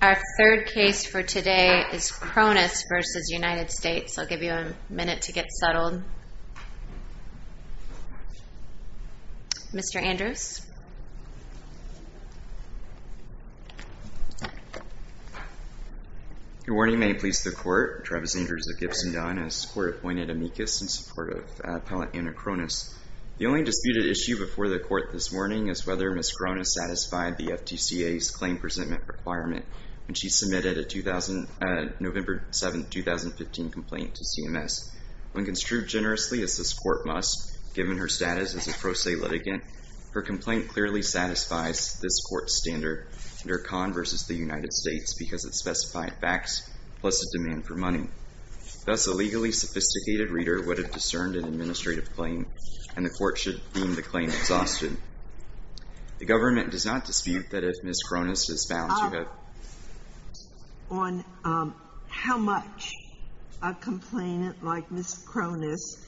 Our third case for today is Chronis v. United States, I'll give you a minute to get settled. Mr. Andrews. Good morning, may it please the Court. Travis Andrews of Gibson Don as court appointed amicus in support of appellate Anna Chronis. The only disputed issue before the court this morning is whether Ms. Chronis satisfied the FTCA's claim presentment requirement when she submitted a November 7, 2015 complaint to CMS. When construed generously as this court must, given her status as a pro se litigant, her complaint clearly satisfies this court's standard under Conn v. the United States because it Thus, a legally sophisticated reader would have discerned an administrative claim, and the court should deem the claim exhausted. The government does not dispute that if Ms. Chronis is found to have On how much a complainant like Ms. Chronis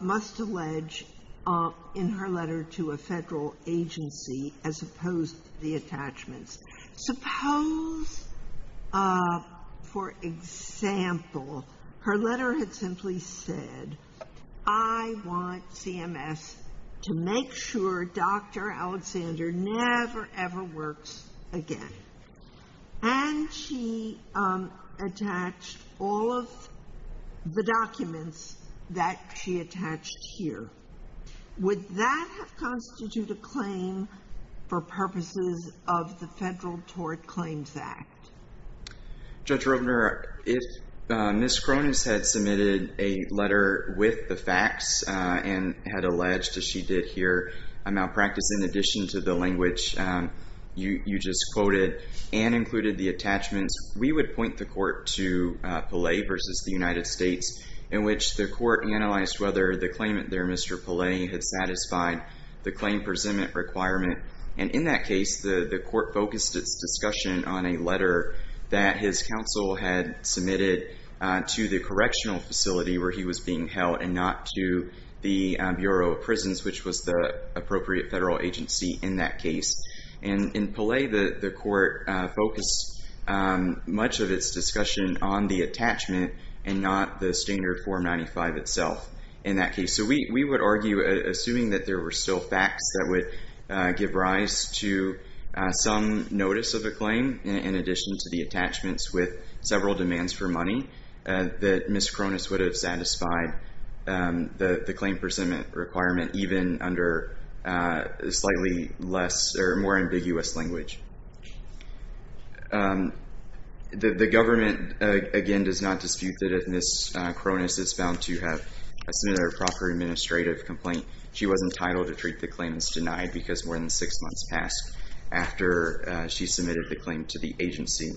must allege in her letter to a Federal agency as opposed to the attachments. Suppose, for example, her letter had simply said, I want CMS to make sure Dr. Alexander never, ever works again. And she attached all of the documents that she attached here. Would that constitute a claim for purposes of the Federal Tort Claims Act? Judge Ropener, if Ms. Chronis had submitted a letter with the facts and had alleged, as she did here, a malpractice in addition to the language you just quoted and included the attachments, we would point the court to Pelle versus the United States, in which the court analyzed whether the claimant there, Mr. Pelle, had satisfied the claim presentment requirement. And in that case, the court focused its discussion on a letter that his counsel had submitted to the correctional facility where he was being held and not to the Bureau of Prisons, which was the appropriate Federal agency in that case. And in Pelle, the court focused much of its discussion on the attachment and not the standard Form 95 itself in that case. So we would argue, assuming that there were still facts that would give rise to some notice of a claim, in addition to the attachments with several demands for money, that Ms. Chronis would have satisfied the claim presentment requirement, even under slightly less or more ambiguous language. The government, again, does not dispute that Ms. Chronis is bound to have submitted a proper administrative complaint. She was entitled to treat the claims denied because more than six months passed after she submitted the claim to the agency.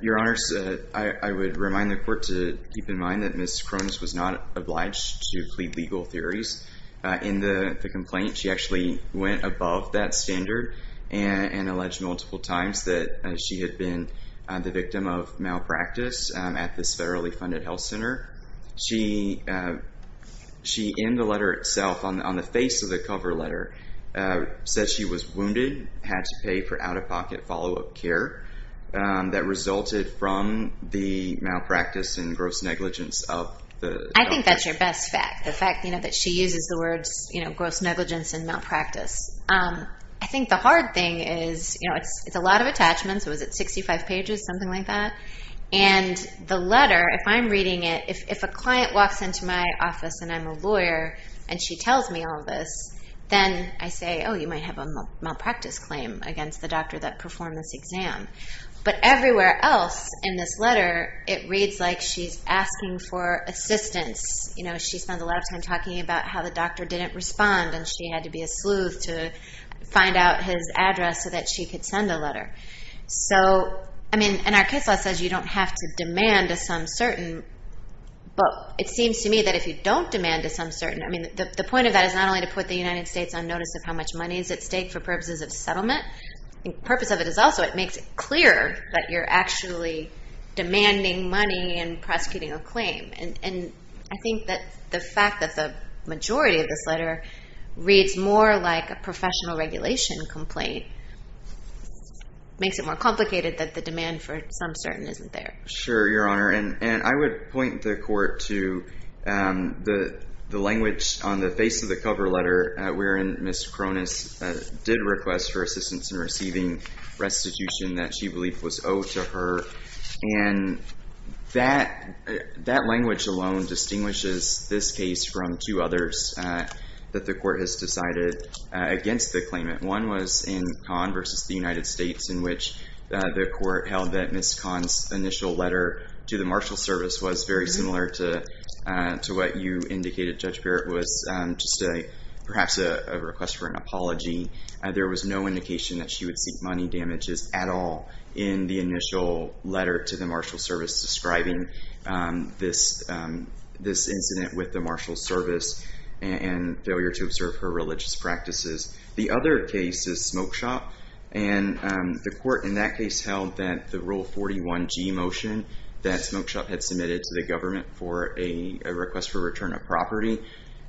Your Honors, I would remind the court to keep in mind that Ms. Chronis was not obliged to plead legal theories in the complaint. She actually went above that standard and alleged multiple times that she had been the victim of malpractice at this federally funded health center. She in the letter itself, on the face of the cover letter, said she was wounded, had to pay for out-of-pocket follow-up care that resulted from the malpractice and gross negligence of the health center. I think that's your best fact. The fact that she uses the words gross negligence and malpractice. I think the hard thing is, it's a lot of attachments, was it 65 pages, something like that? The letter, if I'm reading it, if a client walks into my office and I'm a lawyer and she tells me all of this, then I say, oh, you might have a malpractice claim against the doctor that performed this exam. But everywhere else in this letter, it reads like she's asking for assistance. She spends a lot of time talking about how the doctor didn't respond and she had to be a sleuth to find out his address so that she could send a letter. Our case law says you don't have to demand a some certain, but it seems to me that if you don't demand a some certain, the point of that is not only to put the United States on notice of how much money is at stake for purposes of settlement, the purpose of it is also it makes it clearer that you're actually demanding money and prosecuting a claim. I think that the fact that the majority of this letter reads more like a professional regulation complaint makes it more complicated that the demand for some certain isn't there. Sure, Your Honor. I would point the court to the language on the face of the cover letter wherein Ms. Cronus did request for assistance in receiving restitution that she believed was owed to her. And that language alone distinguishes this case from two others that the court has decided against the claimant. One was in Kahn versus the United States in which the court held that Ms. Kahn's initial letter to the marshal service was very similar to what you indicated, Judge Barrett, was just perhaps a request for an apology. There was no indication that she would seek money damages at all in the initial letter to the marshal service describing this incident with the marshal service and failure to observe her religious practices. The other case is Smoke Shop and the court in that case held that the Rule 41G motion that Smoke Shop had submitted to the government for a request for return of property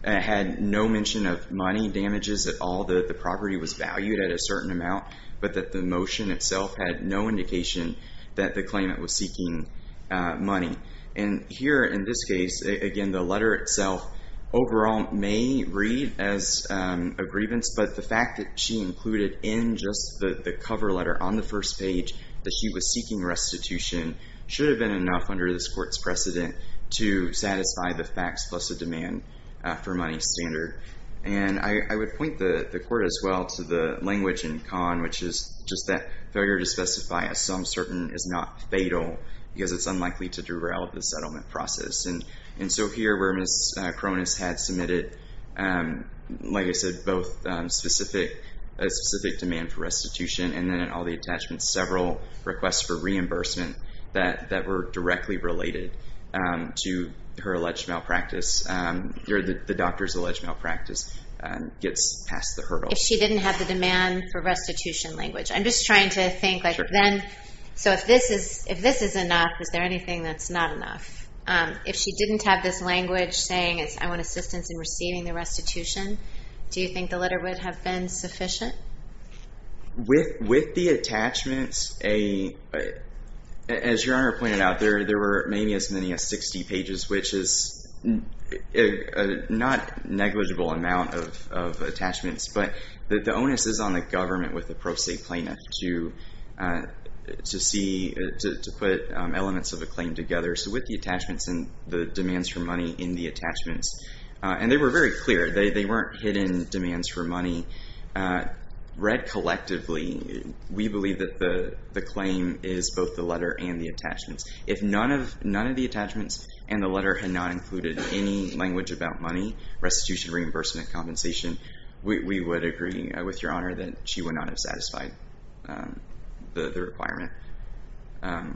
had no mention of money damages at all, that the property was valued at a certain amount, but that the motion itself had no indication that the claimant was seeking money. And here in this case, again, the letter itself overall may read as a grievance, but the fact that she included in just the cover letter on the first page that she was seeking restitution should have been enough under this court's precedent to satisfy the facts plus a demand for money standard. And I would point the court as well to the language in Kahn, which is just that failure to specify a sum certain is not fatal because it's unlikely to derail the settlement process. And so here where Ms. Cronus had submitted, like I said, both a specific demand for restitution and then in all the attachments several requests for reimbursement that were directly related to her alleged malpractice or the doctor's alleged malpractice gets past the hurdle. If she didn't have the demand for restitution language. I'm just trying to think like then, so if this is enough, is there anything that's not enough? If she didn't have this language saying I want assistance in receiving the restitution, do you think the letter would have been sufficient? With the attachments, as your Honor pointed out, there were maybe as many as 60 pages, which is not negligible amount of attachments, but the onus is on the government with the pro se plaintiff to see, to put elements of the claim together. So with the attachments and the demands for money in the attachments, and they were very clear, they weren't hidden demands for money, read collectively, we believe that the claim is both the letter and the attachments. If none of the attachments and the letter had not included any language about money, restitution, reimbursement, compensation, we would agree with your Honor that she would not have satisfied the requirement.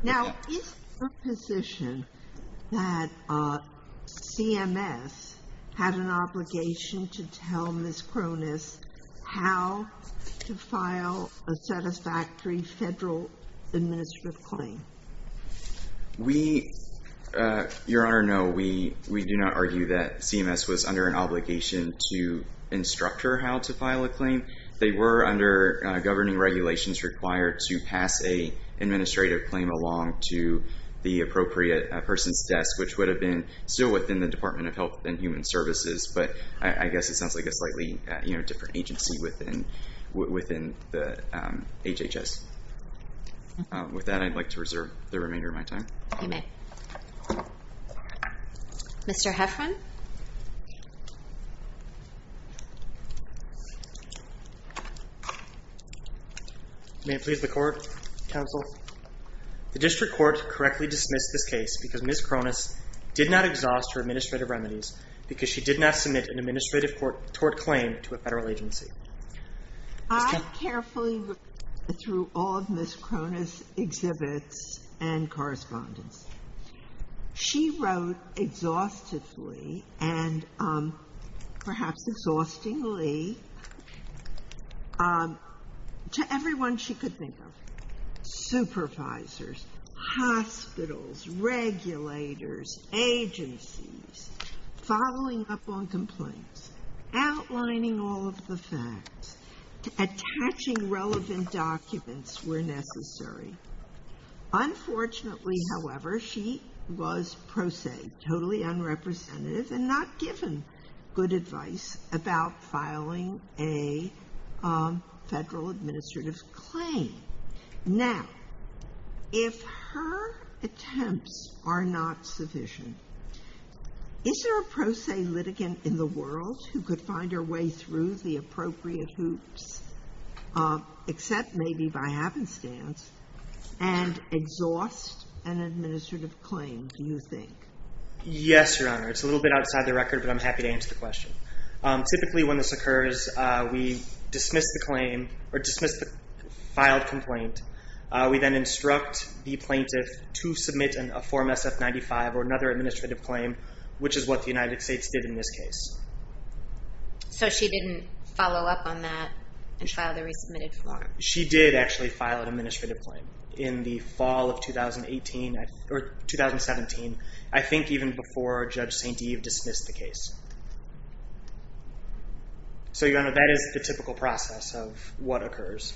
Now is the position that CMS had an obligation to tell Ms. Cronus that she was going to be instructing Ms. Cronus how to file a satisfactory federal administrative claim? We, your Honor, no. We do not argue that CMS was under an obligation to instruct her how to file a claim. They were under governing regulations required to pass an administrative claim along to the appropriate person's desk, which would have been still within the Department of Health and Human Services, but I guess it sounds like a slightly different agency within the HHS. With that, I'd like to reserve the remainder of my time. Mr. Heffron? May it please the Court, Counsel? The District Court correctly dismissed this case because Ms. Cronus did not exhaust her administrative remedies because she did not submit an administrative court tort claim to a federal agency. I carefully looked through all of Ms. Cronus' exhibits and correspondence. She wrote exhaustively and perhaps exhaustingly to everyone she could think of, supervisors, hospitals, regulators, agencies, following up on complaints, outlining all of the facts, attaching relevant documents where necessary. Unfortunately, however, she was prosaic, totally unrepresentative and not given good advice about filing a federal administrative claim. Now, if her attempts are not sufficient, is there a pro se litigant in the world who could find her way through the appropriate hoops, except maybe by happenstance, and exhaust an administrative claim, do you think? Yes, Your Honor. It's a little bit outside the record, but I'm happy to answer the question. Typically when this occurs, we dismiss the filed complaint. We then instruct the plaintiff to submit a Form SF-95 or another administrative claim, which is what the United States did in this case. So she didn't follow up on that and file the resubmitted form? She did actually file an administrative claim in the fall of 2017, I think even before Judge St. Eve dismissed the case. So, Your Honor, that is the typical process of what occurs.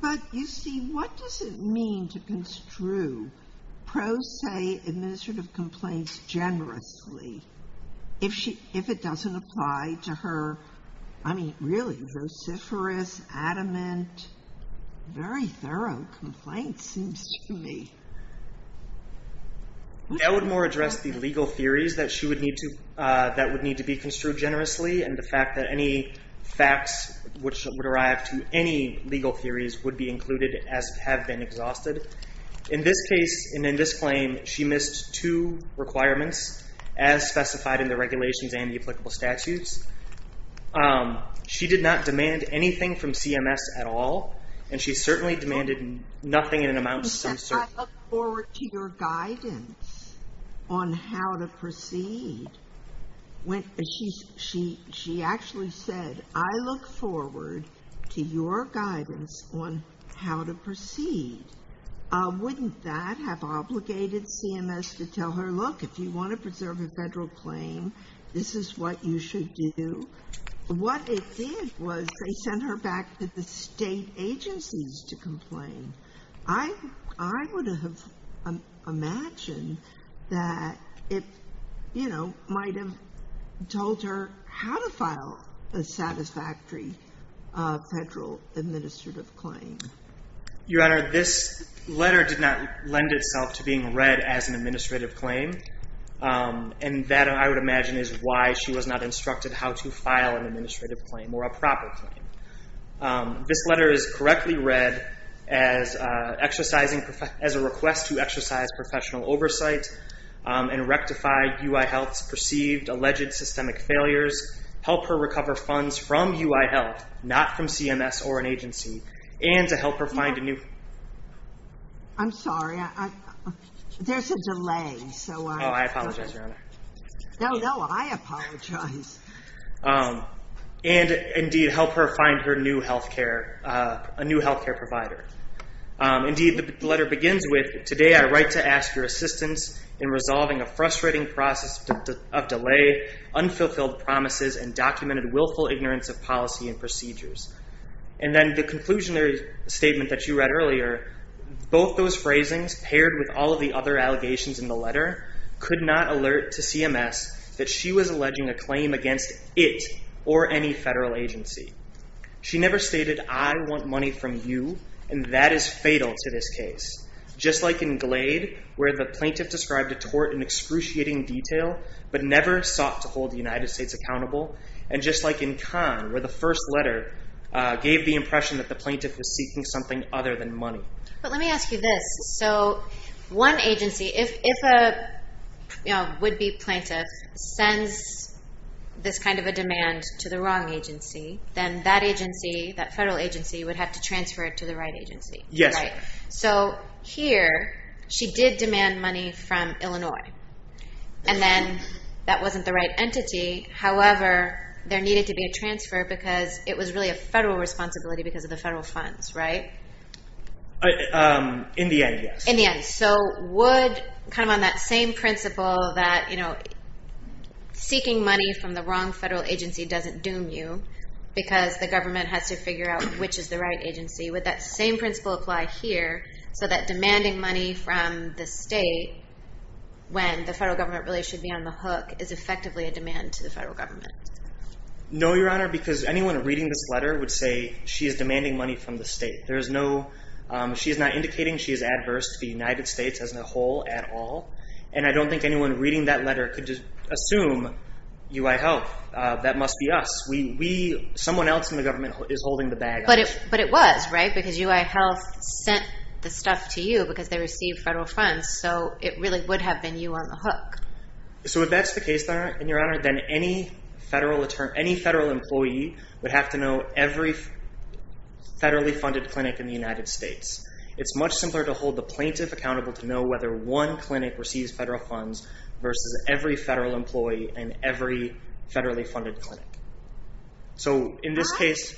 But, you see, what does it mean to construe pro se administrative complaints generously if it doesn't apply to her, I mean, really, vociferous, adamant, very thorough complaints, seems to me. That would more address the legal theories that would need to be construed generously and the fact that any facts which would arrive to any legal theories would be included as have been exhausted. In this case, and in this claim, she missed two requirements, as specified in the regulations and the applicable statutes. She did not demand anything from CMS. She said, I look forward to your guidance on how to proceed. She actually said, I look forward to your guidance on how to proceed. Wouldn't that have obligated CMS to tell her, look, if you want to preserve a federal claim, this is what you should do? What it did was they sent her back to the state agencies to complain. I would have imagined that it, you know, might have told her how to file a satisfactory federal administrative claim. Your Honor, this letter did not lend itself to being read as an administrative claim. And that, I would imagine, is why she was not instructed how to file an administrative claim or a proper claim. This letter is correctly read as a request to exercise professional oversight and rectify UI Health's perceived alleged systemic failures, help her recover funds from UI Health, not from CMS or an agency, and to help her find a new... I'm sorry. There's a delay. Oh, I apologize, Your Honor. No, no, I apologize. And, indeed, help her find her new health care, a new health care provider. Indeed, the letter begins with, today I write to ask your assistance in resolving a frustrating process of delay, unfulfilled promises, and documented willful ignorance of policy and procedures. And then the conclusion statement that you read earlier, both those phrasings, paired with all of the other allegations in the letter, could not alert to CMS that she was alleging a claim against it or any federal agency. She never stated, I want money from you, and that is fatal to this case. Just like in Glade, where the plaintiff described a tort in excruciating detail, but never sought to hold the United States accountable. And just like in Kahn, where the first letter gave the impression that the plaintiff was seeking something other than money. But let me ask you this. So one agency, if a would-be plaintiff sends this kind of a demand to the wrong agency, then that agency, that federal agency, would have to transfer it to the right agency. Yes. Right. So here, she did demand money from Illinois, and then that wasn't the right entity. However, there needed to be a responsibility because of the federal funds, right? In the end, yes. So would, kind of on that same principle, that seeking money from the wrong federal agency doesn't doom you, because the government has to figure out which is the right agency, would that same principle apply here, so that demanding money from the state, when the federal government really should be on the hook, is effectively a demand to the federal government? No, Your Honor, because anyone reading this letter would say she is demanding money from the state. She is not indicating she is adverse to the United States as a whole at all. And I don't think anyone reading that letter could assume UI Health, that must be us. Someone else in the government is holding the bag. But it was, right? Because UI Health sent the stuff to you because they received federal funds, so it really would have been you on the hook. So if that's the case, Your Honor, then any federal employee would have to know every federally funded clinic in the United States. It's much simpler to hold the plaintiff accountable to know whether one clinic receives federal funds versus every federal employee and every federal employee. In this case,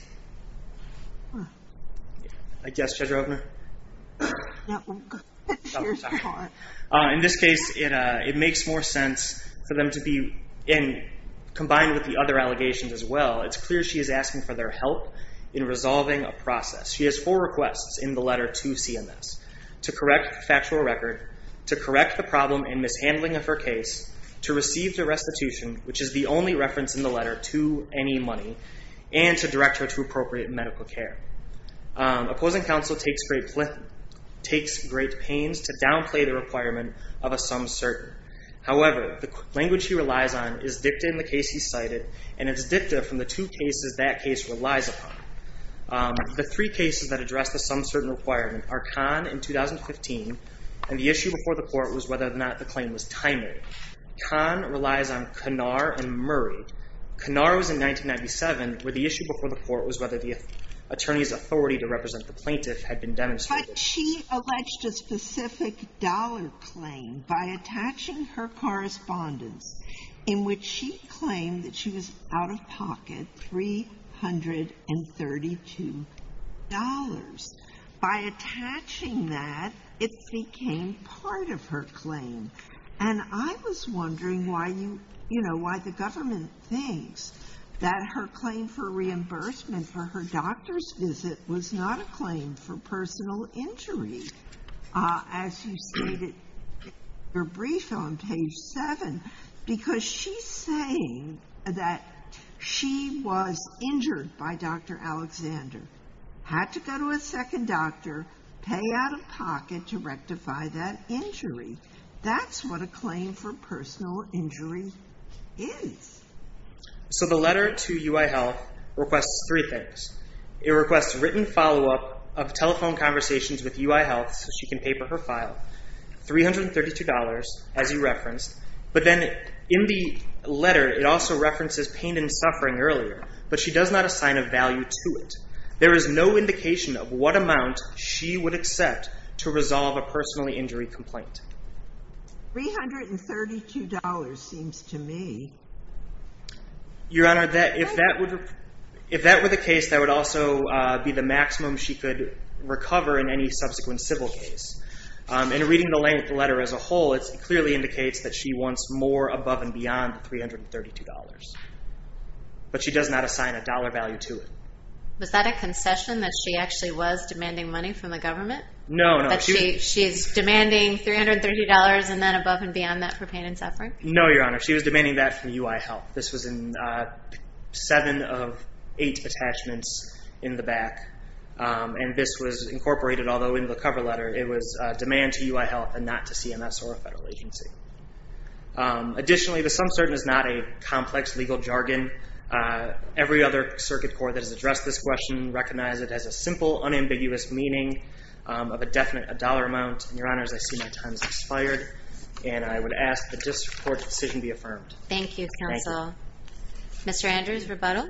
it makes more sense for them to be, and combined with the other allegations as well, it's clear she is asking for their help in resolving a process. She has four requests in the letter to CMS, to correct the factual record, to correct the problem and mishandling of her case, to receive the restitution, which is the only reference in the letter to any money, and to direct her to appropriate medical care. Opposing counsel takes great pains to downplay the requirement of a some certain. However, the language he relies on is dicta in the case he cited, and it's dicta from the two cases that case relies upon. The three cases that address the some certain requirement are Kahn in 2015, and the issue before the court was whether or not the claim was timely. Kahn relies on Kanar and Murray. Kanar was in 1997, where the issue before the court was whether the attorney's authority to represent the plaintiff had been demonstrated. But she alleged a specific dollar claim by attaching her correspondence, in which she claimed that she was out of pocket $332. By attaching that, it became part of her claim. And I was wondering why you, you know, why the government thinks that her claim for reimbursement for her doctor's visit was not a claim for personal injury. As you stated in your brief on page 7, because she's saying that she was injured by Dr. Alexander. Had to go to a second doctor, pay out of pocket to rectify that injury. That's what a claim for personal injury is. So the letter to UI Health requests three things. It requests written follow-up of telephone conversations with UI Health so she can paper her file. $332, as you referenced. But then in the letter, it also references pain and suffering earlier, but she does not assign a value to it. There is no indication of what amount she would accept to resolve a personal injury complaint. $332 seems to me. Your Honor, if that were the case, that would also be the maximum she could recover in any subsequent civil case. In reading the letter as a whole, it clearly indicates that she wants more above and beyond $332. But she does not assign a dollar value to it. Was that a concession that she actually was demanding money from the government? No, no. She's demanding $332 and then above and beyond that for pain and suffering? No, Your Honor. She was demanding that from UI Health. This was in 7 of 8 attachments in the back. And this was incorporated, although in the cover letter, it was demand to UI Health and not to CMS or a federal agency. Additionally, the sum certain is not a complex legal jargon. Every other circuit court that has addressed this question recognizes it as a simple, unambiguous meaning of a definite dollar amount. Your Honor, as I see my time has expired, and I would ask that this court's decision be affirmed. Thank you, Counsel. Mr. Andrews, rebuttal?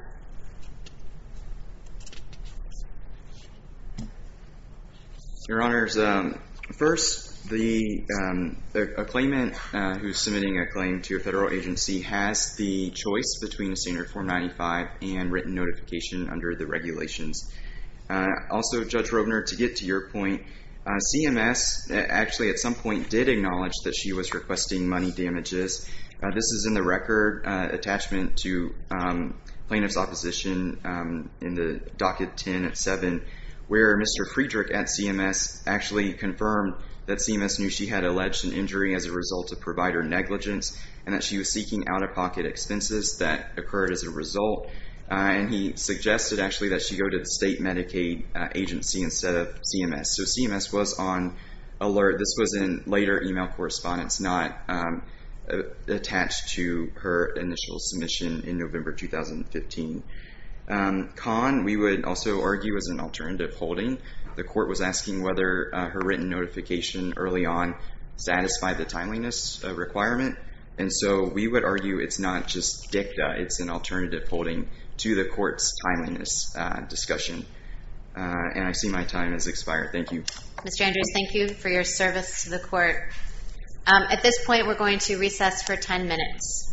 Your Honor, first, a claimant who is submitting a claim to a federal agency has the choice between a standard form 95 and written notification under the regulations. Also, Judge Robner, to get to your point, CMS actually at some point did acknowledge that she was requesting money damages. This is in the record attachment to plaintiff's opposition in the docket 10 at 7, where Mr. Friedrich at CMS actually confirmed that CMS knew she had alleged an injury as a result of provider negligence and that she was seeking out-of-pocket expenses that occurred as a result. And he suggested, actually, that she go to the state Medicaid agency instead of CMS. So CMS was on alert. This was in her initial submission in November 2015. Con, we would also argue, is an alternative holding. The court was asking whether her written notification early on satisfied the timeliness requirement. And so we would argue it's not just dicta, it's an alternative holding to the court's timeliness discussion. And I see my time has expired. Thank you. Mr. Andrews, thank you for your time. You may recess for 10 minutes.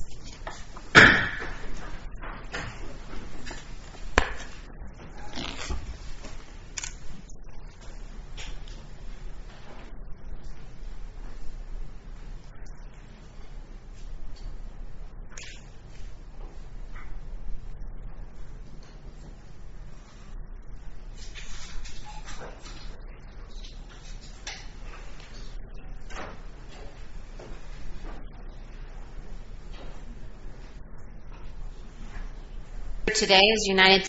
Thank you.